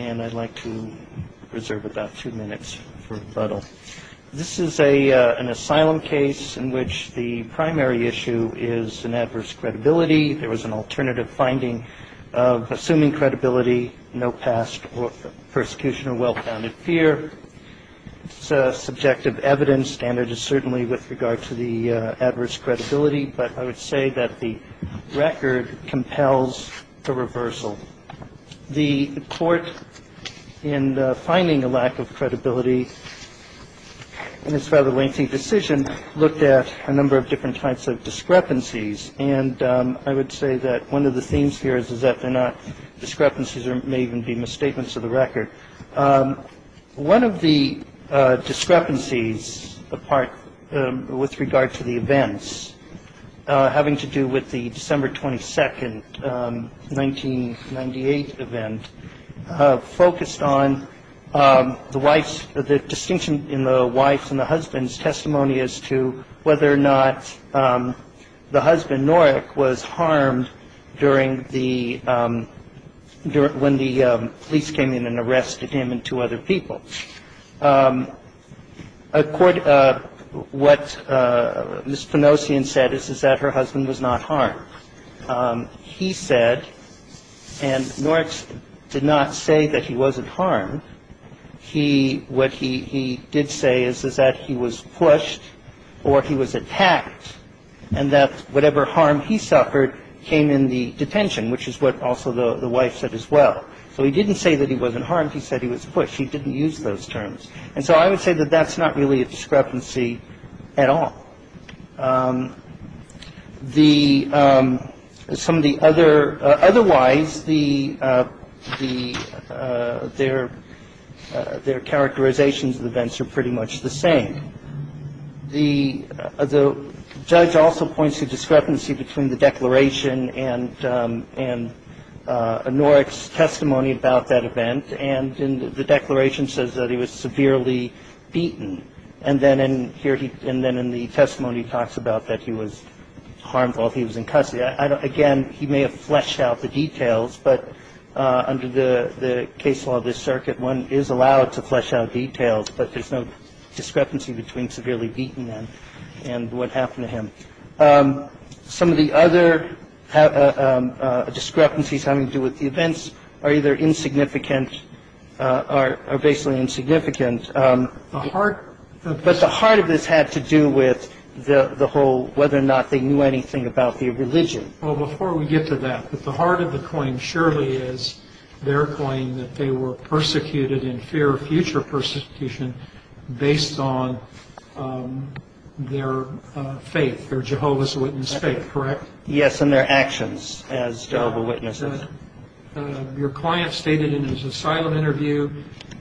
and I'd like to reserve about two minutes for rebuttal. This is an asylum case in which the primary issue is an adverse credibility. There was an alternative finding of assuming credibility, no past persecution or well-founded fear. It's subjective evidence, and it is certainly with regard to the adverse credibility, but I would say that the record compels a reversal. The Court in finding a lack of credibility in this rather lengthy decision looked at a number of different types of discrepancies, and I would say that one of the themes here is that they're not discrepancies or may even be misstatements of the record. One of the discrepancies with regard to the events having to do with the December 22, 1998 event focused on the distinction in the wife's and the husband's testimony as to whether or not the husband, Norik, was harmed during the – when the police came in and arrested him and two other people. What Ms. Finosian said is that her husband was not harmed. He said, and Norik did not say that he wasn't harmed. He – what he did say is that he was pushed or he was attacked, and that whatever harm he suffered came in the detention, which is what also the wife said as well. So he didn't say that he wasn't harmed. He said he was pushed. He didn't use those terms. And so I would say that that's not really a discrepancy at all. The – some of the other – otherwise, the – their characterizations of the events are pretty much the same. The judge also points to discrepancy between the declaration and Norik's testimony about that event, and the declaration says that he was severely beaten. And then in here he – and then in the testimony, he talks about that he was harmed while he was in custody. I don't – again, he may have fleshed out the details, but under the case law of this circuit, one is allowed to flesh out details, but there's no discrepancy between severely beaten and what happened to him. Some of the other discrepancies having to do with the events are either insignificant or basically insignificant. The heart – but the heart of this had to do with the whole whether or not they knew anything about the religion. Well, before we get to that, but the heart of the claim surely is their claim that they were persecuted in fear of future persecution based on their faith, their Jehovah's Witness faith, correct? Yes, and their actions as Jehovah's Witnesses. Your client stated in his asylum interview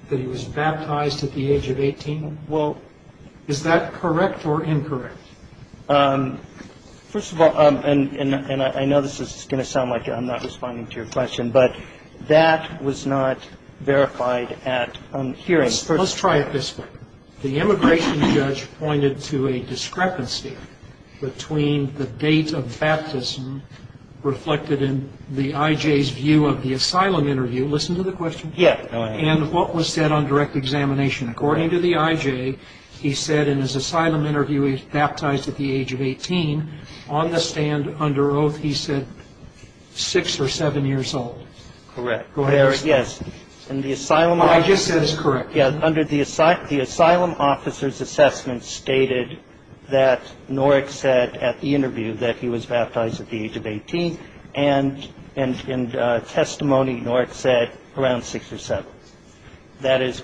that he was baptized at the age of 18. Well, is that correct or incorrect? First of all – and I know this is going to sound like I'm not responding to your question, but that was not verified at hearings. Let's try it this way. The immigration judge pointed to a discrepancy between the date of baptism reflected in the I.J.'s view of the asylum interview – listen to the question – and what was said on direct examination. According to the I.J., he said in his asylum interview he was baptized at the age of 18. On the stand under oath, he said six or seven years old. Correct. Yes, and the asylum officer's assessment stated that Norek said at the interview that he was baptized at the age of 18, and in testimony, Norek said around six or seven. That is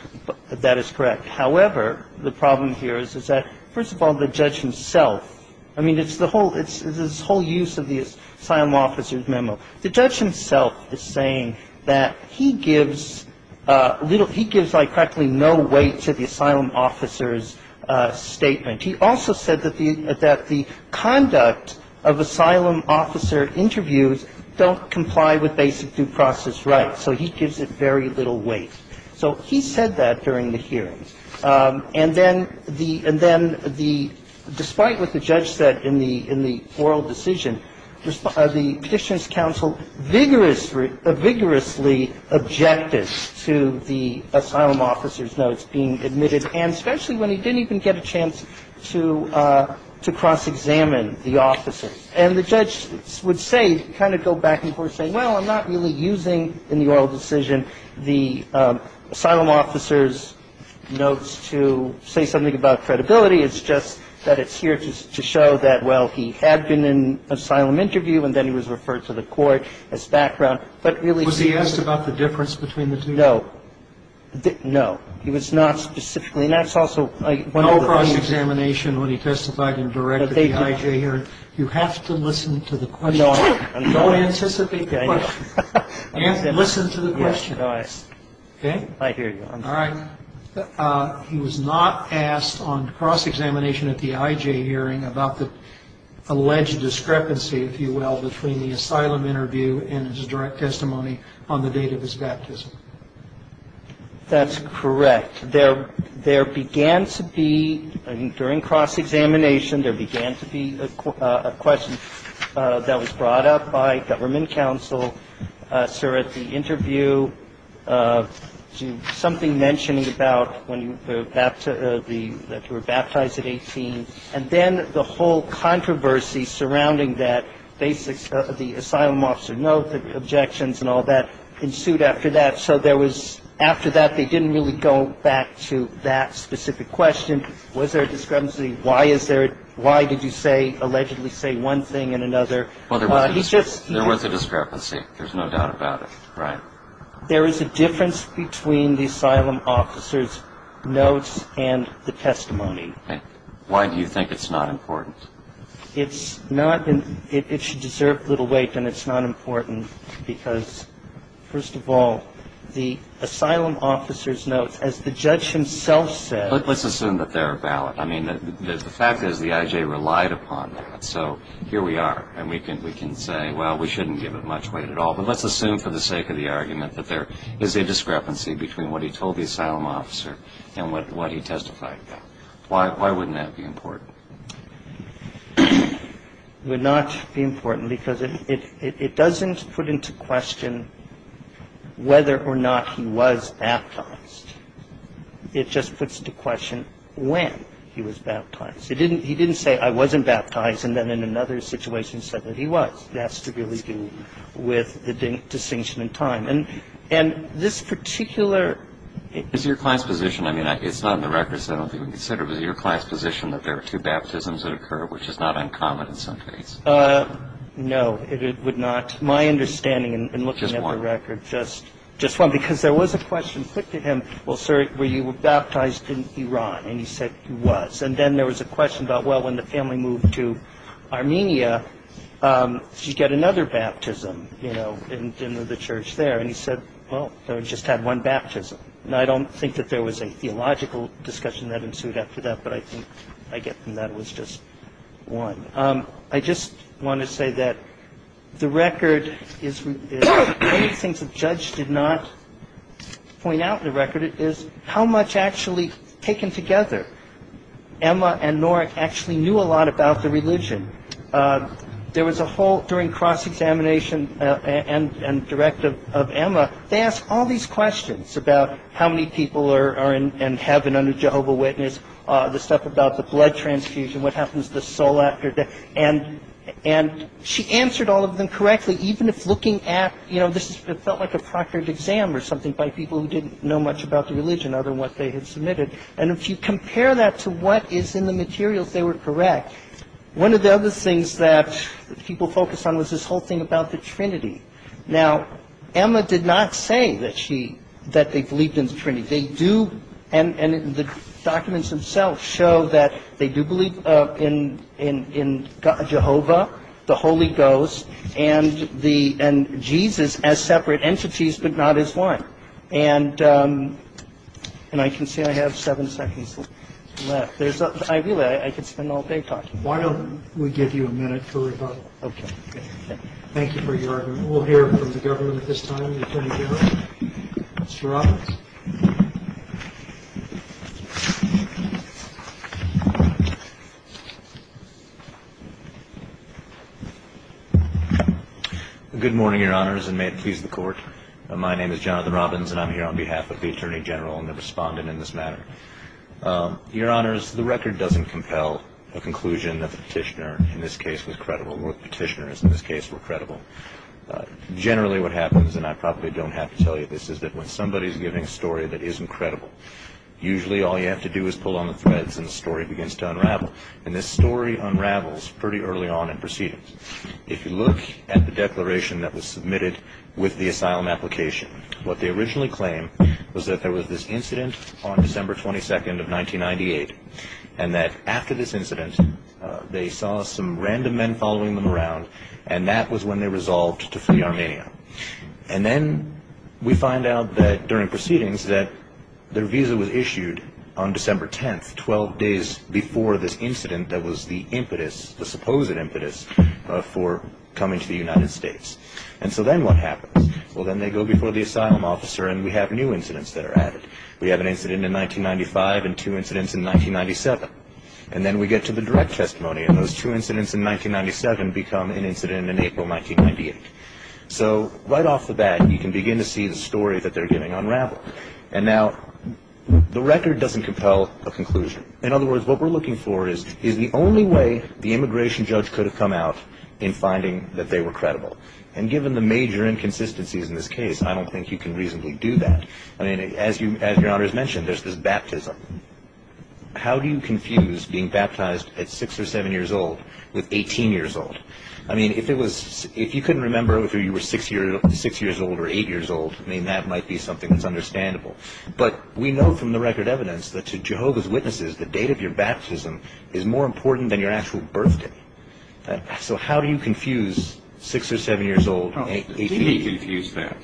correct. However, the problem here is that, first of all, the judge himself – I mean, it's this whole use of the asylum officer's memo. The judge himself is saying that he gives practically no weight to the asylum officer's statement. He also said that the conduct of asylum officer interviews don't comply with basic due process rights, so he gives it very little weight. So he said that during the hearings. And then the – and then the – despite what the judge said in the – in the oral decision, the Petitioner's counsel vigorously – vigorously objected to the asylum officer's notes being admitted, and especially when he didn't even get a chance to cross-examine the officer. And the judge would say – kind of go back and forth, saying, well, I'm not really using, in the oral decision, the asylum officer's notes to say something about credibility. It's just that it's here to show that, well, he had been in asylum interview, and then he was referred to the court as background, but really – Was he asked about the difference between the two? No. No. He was not specifically – and that's also one of the questions. No cross-examination when he testified in direct at the IJ hearing. You have to listen to the question. No, I'm not. Don't anticipate the question. Listen to the question. Yes. No, I – Okay? I hear you. I'm sorry. All right. He was not asked on cross-examination at the IJ hearing about the alleged discrepancy, if you will, between the asylum interview and his direct testimony on the day of his baptism. That's correct. There began to be – during cross-examination, there began to be a question that was brought up by government counsel, sir, at the interview, something mentioning about when you were baptized at 18, and then the whole controversy surrounding that, the asylum officer note, the objections and all that ensued after that. So there was – after that, they didn't really go back to that specific question. Was there a discrepancy? Why is there – why did you say – allegedly say one thing and another? Well, there was a discrepancy. There's no doubt about it. Right. There is a difference between the asylum officer's notes and the testimony. Why do you think it's not important? It's not – it should deserve little weight, and it's not important because, first of all, the asylum officer's notes, as the judge himself said – But let's assume that they're valid. I mean, the fact is the IJ relied upon that. So here we are, and we can say, well, we shouldn't give it much weight at all. But let's assume for the sake of the argument that there is a discrepancy between what he told the asylum officer and what he testified about. Why wouldn't that be important? It would not be important because it doesn't put into question whether or not he was baptized. It just puts into question when he was baptized. He didn't say, I wasn't baptized, and then in another situation said that he was. That's to do with the distinction in time. And this particular – Is your client's position – I mean, it's not in the records, so I don't think we which is not uncommon in some cases. No, it would not. My understanding in looking at the record – Just one. Just one. Because there was a question put to him, well, sir, were you baptized in Iran? And he said he was. And then there was a question about, well, when the family moved to Armenia, did you get another baptism in the church there? And he said, well, I just had one baptism. And I don't think that there was a theological discussion that ensued after that, but I think I get from that it was just one. I just want to say that the record is – one of the things the judge did not point out in the record is how much actually taken together Emma and Norik actually knew a lot about the religion. There was a whole – during cross-examination and direct of Emma, they asked all these questions about how many people are in heaven under Jehovah Witness, the stuff about the blood transfusion, what happens to the soul after death. And she answered all of them correctly, even if looking at – you know, this felt like a proctored exam or something by people who didn't know much about the religion other than what they had submitted. And if you compare that to what is in the materials, they were correct. One of the other things that people focused on was this whole thing about the trinity. Now, Emma did not say that she – that they believed in the trinity. They do – and the documents themselves show that they do believe in Jehovah, the Holy Ghost, and the – and Jesus as separate entities but not as one. And I can see I have seven seconds left. There's – I really – I could spend all day talking. Why don't we give you a minute for rebuttal? Okay. Thank you for your argument. We'll hear from the government at this time. Thank you, Attorney General. Mr. Robbins. Good morning, Your Honors, and may it please the Court. My name is Jonathan Robbins, and I'm here on behalf of the Attorney General and the respondent in this matter. Your Honors, the record doesn't compel a conclusion that the petitioner in this case was credible or the petitioners in this case were credible. Generally what happens, and I probably don't have to tell you this, is that when somebody is giving a story that isn't credible, usually all you have to do is pull on the threads and the story begins to unravel. And this story unravels pretty early on in proceedings. If you look at the declaration that was submitted with the asylum application, what they originally claimed was that there was this incident on December 22nd of 1998 and that after this incident they saw some random men following them around, and that was when they resolved to flee Armenia. And then we find out that during proceedings that their visa was issued on December 10th, 12 days before this incident that was the impetus, the supposed impetus, for coming to the United States. And so then what happens? Well, then they go before the asylum officer and we have new incidents that are added. We have an incident in 1995 and two incidents in 1997. And then we get to the direct testimony and those two incidents in 1997 become an incident in April 1998. So right off the bat you can begin to see the story that they're getting unraveled. And now the record doesn't compel a conclusion. In other words, what we're looking for is the only way the immigration judge could have come out in finding that they were credible. And given the major inconsistencies in this case, I don't think you can reasonably do that. I mean, as Your Honor has mentioned, there's this baptism. How do you confuse being baptized at 6 or 7 years old with 18 years old? I mean, if you couldn't remember if you were 6 years old or 8 years old, I mean, that might be something that's understandable. But we know from the record evidence that to Jehovah's Witnesses the date of your baptism is more important than your actual birthday. So how do you confuse 6 or 7 years old and 18 years old? How do you confuse that?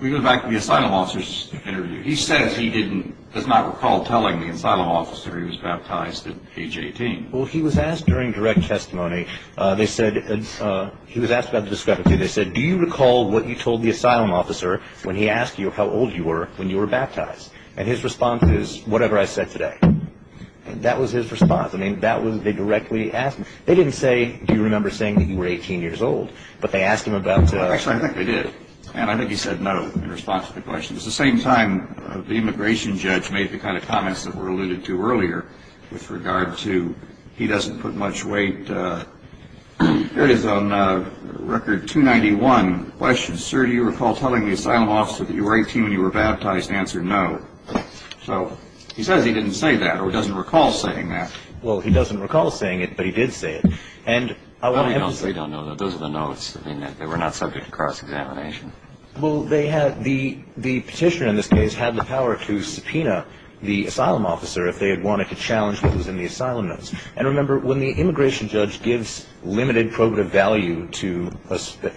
We go back to the asylum officer's interview. He says he does not recall telling the asylum officer he was baptized at age 18. Well, he was asked during direct testimony, they said, he was asked about the discrepancy. They said, do you recall what you told the asylum officer when he asked you how old you were when you were baptized? And his response is, whatever I said today. And that was his response. I mean, they directly asked him. They didn't say, do you remember saying that you were 18 years old? Actually, I think they did. And I think he said no in response to the question. At the same time, the immigration judge made the kind of comments that were alluded to earlier with regard to he doesn't put much weight. There is on record 291 questions. Sir, do you recall telling the asylum officer that you were 18 when you were baptized? Answer, no. So he says he didn't say that or doesn't recall saying that. Well, he doesn't recall saying it, but he did say it. No, we don't know that. Those are the notes. They were not subject to cross-examination. Well, the petitioner in this case had the power to subpoena the asylum officer if they had wanted to challenge what was in the asylum notes. And remember, when the immigration judge gives limited probative value to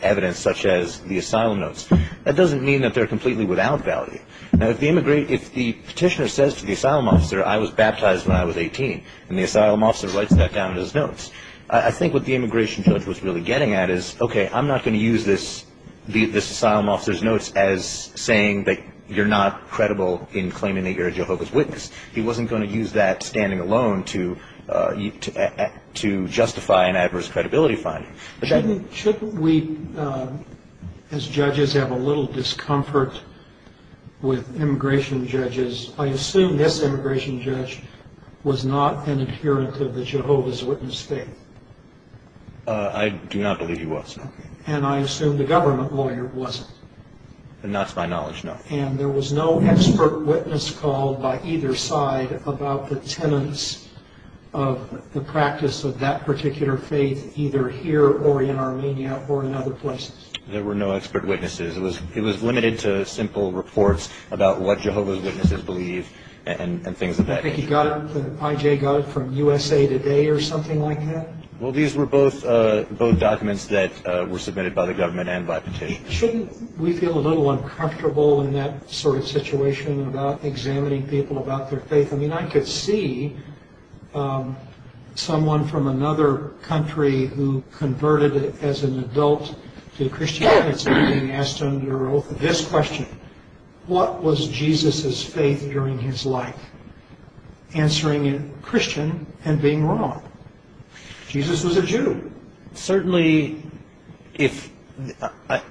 evidence such as the asylum notes, that doesn't mean that they're completely without value. Now, if the petitioner says to the asylum officer, I was baptized when I was 18, and the asylum officer writes that down in his notes, I think what the immigration judge was really getting at is, okay, I'm not going to use this asylum officer's notes as saying that you're not credible in claiming that you're a Jehovah's Witness. He wasn't going to use that standing alone to justify an adverse credibility finding. Shouldn't we, as judges, have a little discomfort with immigration judges? I assume this immigration judge was not an adherent of the Jehovah's Witness faith. I do not believe he was. And I assume the government lawyer wasn't. To my knowledge, no. And there was no expert witness called by either side about the tenets of the practice of that particular faith, either here or in Armenia or in other places? There were no expert witnesses. It was limited to simple reports about what Jehovah's Witnesses believe and things of that nature. I think he got it, I.J. got it, from USA Today or something like that? Well, these were both documents that were submitted by the government and by petitioners. Shouldn't we feel a little uncomfortable in that sort of situation about examining people about their faith? I mean, I could see someone from another country who converted as an adult to Christianity being asked under oath this question. What was Jesus' faith during his life? Answering in Christian and being wrong. Jesus was a Jew. Certainly, I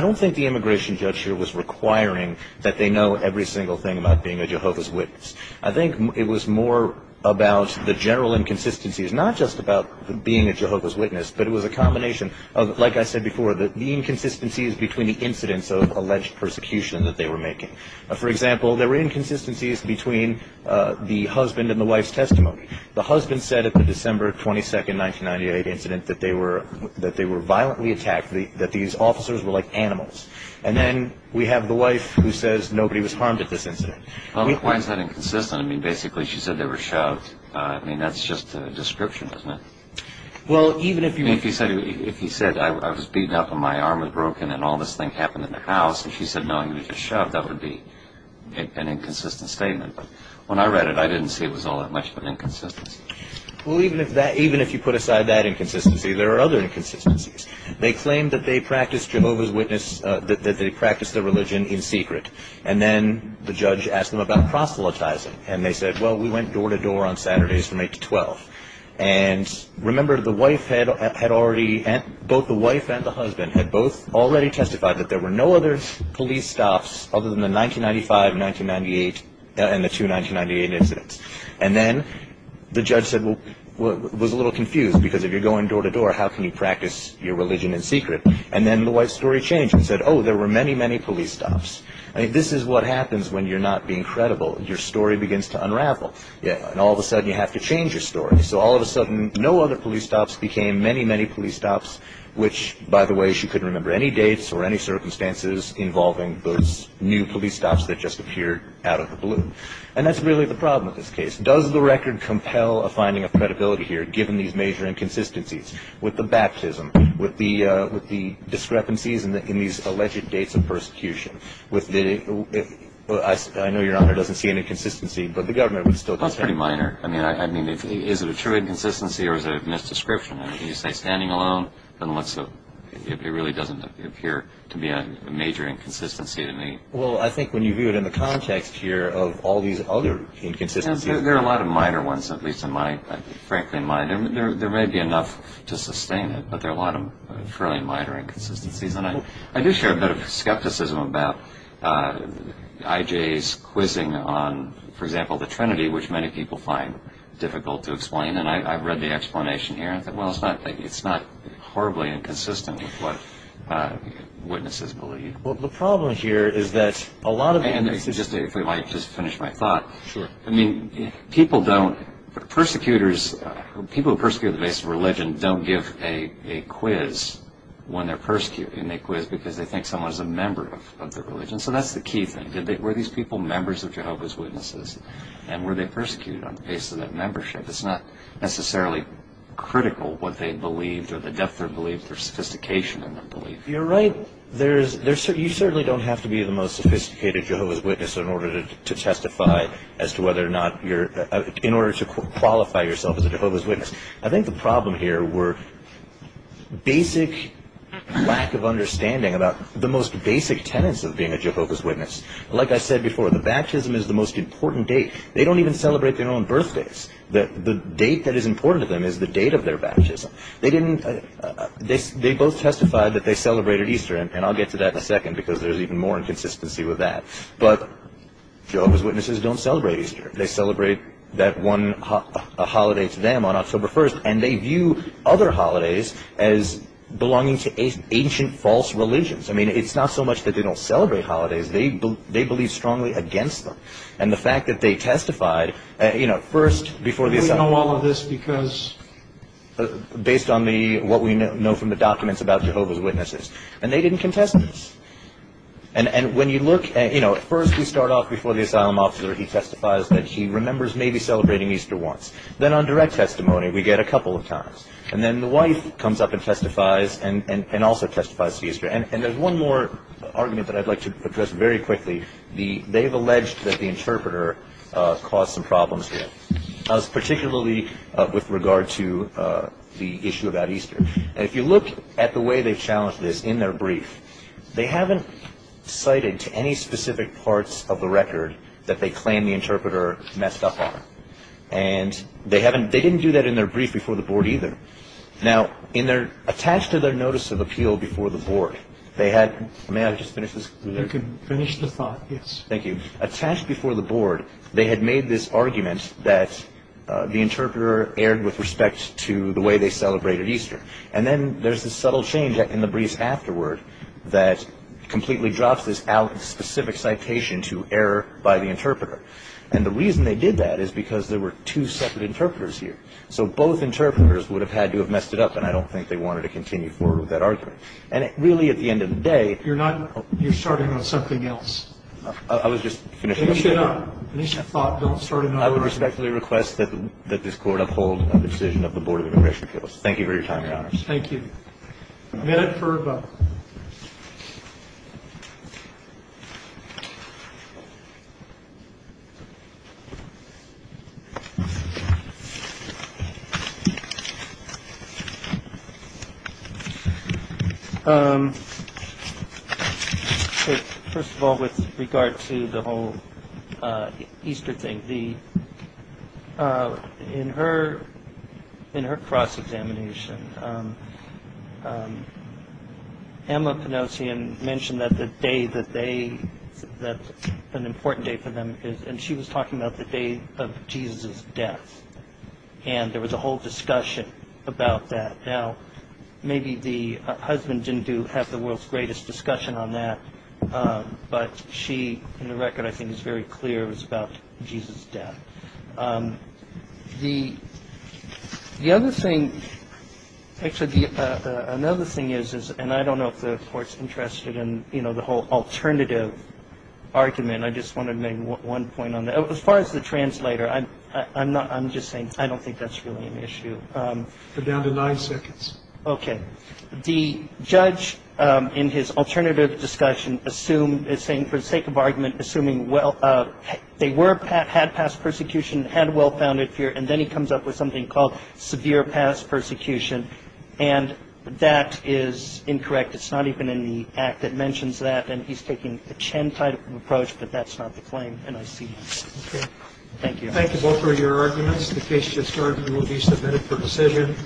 don't think the immigration judge here was requiring that they know every single thing about being a Jehovah's Witness. I think it was more about the general inconsistencies, not just about being a Jehovah's Witness, but it was a combination of, like I said before, the inconsistencies between the incidents of alleged persecution that they were making. For example, there were inconsistencies between the husband and the wife's testimony. The husband said at the December 22, 1998 incident that they were violently attacked, that these officers were like animals. And then we have the wife who says nobody was harmed at this incident. Why is that inconsistent? I mean, basically she said they were shoved. I mean, that's just a description, isn't it? Well, even if he said, I was beaten up and my arm was broken and all this thing happened in the house, and she said, no, you were just shoved, that would be an inconsistent statement. But when I read it, I didn't see it was all that much of an inconsistency. Well, even if you put aside that inconsistency, there are other inconsistencies. They claim that they practiced Jehovah's Witness, that they practiced their religion in secret. And then the judge asked them about proselytizing. And they said, well, we went door to door on Saturdays from 8 to 12. And remember, the wife had already, both the wife and the husband had both already testified that there were no other police stops other than the 1995, 1998 and the two 1998 incidents. And then the judge said, well, was a little confused because if you're going door to door, how can you practice your religion in secret? And then the wife's story changed and said, oh, there were many, many police stops. I mean, this is what happens when you're not being credible. Your story begins to unravel. And all of a sudden you have to change your story. So all of a sudden no other police stops became many, many police stops, which, by the way, she couldn't remember any dates or any circumstances involving those new police stops that just appeared out of the blue. And that's really the problem with this case. Does the record compel a finding of credibility here, given these major inconsistencies with the baptism, with the discrepancies in these alleged dates of persecution? I know Your Honor doesn't see an inconsistency, but the government would still defend it. That's pretty minor. I mean, is it a true inconsistency or is it a misdescription? When you say standing alone, it really doesn't appear to be a major inconsistency to me. Well, I think when you view it in the context here of all these other inconsistencies. There are a lot of minor ones, at least in my, frankly, mind. There may be enough to sustain it, but there are a lot of fairly minor inconsistencies. And I do share a bit of skepticism about I.J.'s quizzing on, for example, the Trinity, which many people find difficult to explain. And I've read the explanation here, and I think, well, it's not horribly inconsistent with what witnesses believe. Well, the problem here is that a lot of the- And if we might just finish my thought. Sure. I mean, people don't, persecutors, people who persecute at the base of religion don't give a quiz when they're persecuting. They quiz because they think someone is a member of their religion. So that's the key thing. Were these people members of Jehovah's Witnesses, and were they persecuted on the basis of that membership? It's not necessarily critical what they believed or the depth they believed or sophistication in their belief. You're right. You certainly don't have to be the most sophisticated Jehovah's Witness in order to testify as to whether or not you're- in order to qualify yourself as a Jehovah's Witness. I think the problem here were basic lack of understanding about the most basic tenets of being a Jehovah's Witness. Like I said before, the baptism is the most important date. They don't even celebrate their own birthdays. The date that is important to them is the date of their baptism. They didn't- They both testified that they celebrated Easter, and I'll get to that in a second because there's even more inconsistency with that. But Jehovah's Witnesses don't celebrate Easter. They celebrate that one holiday to them on October 1st, and they view other holidays as belonging to ancient false religions. I mean, it's not so much that they don't celebrate holidays. They believe strongly against them. And the fact that they testified, you know, first- Do we know all of this because- Based on what we know from the documents about Jehovah's Witnesses. And they didn't contest this. And when you look- You know, first we start off before the asylum officer. He testifies that he remembers maybe celebrating Easter once. Then on direct testimony, we get a couple of times. And then the wife comes up and testifies and also testifies to Easter. And there's one more argument that I'd like to address very quickly. They've alleged that the interpreter caused some problems here, particularly with regard to the issue about Easter. And if you look at the way they've challenged this in their brief, they haven't cited to any specific parts of the record that they claim the interpreter messed up on. And they didn't do that in their brief before the board either. Now, attached to their notice of appeal before the board, they had- May I just finish this? You can finish the thought, yes. Thank you. Attached before the board, they had made this argument that the interpreter erred with respect to the way they celebrated Easter. And then there's this subtle change in the briefs afterward that completely drops this specific citation to error by the interpreter. And the reason they did that is because there were two separate interpreters here. So both interpreters would have had to have messed it up. And I don't think they wanted to continue forward with that argument. And really, at the end of the day- You're starting on something else. I was just finishing- Finish it up. Finish the thought. Don't start another argument. I would respectfully request that this Court uphold the decision of the Board of Immigration Appeals. Thank you for your time, Your Honors. Thank you. Minute for a vote. First of all, with regard to the whole Easter thing, in her cross-examination, Emma Pinozian mentioned that the day that they- that's an important day for them. And she was talking about the day of Jesus' death. And there was a whole discussion about that. Now, maybe the husband didn't have the world's greatest discussion on that. But she, in the record, I think, is very clear it was about Jesus' death. The other thing- Actually, another thing is- and I don't know if the Court's interested in the whole alternative argument. I just wanted to make one point on that. As far as the translator, I'm just saying I don't think that's really an issue. So, I'm sorry. I'm going to pause the video for down to nine seconds. Okay. The judge in his alternative discussion assumed- is saying for the sake of argument, assuming well- they were- had past persecution and had well-founded fear. And then he comes up with something called severe past persecution. And that is incorrect. It's not even in the Act that mentions that. And he's taking a Chen type of approach, but that's not the claim. And I see that. Okay. Thank you. Thank you both for your arguments. The case just heard will be submitted for decision.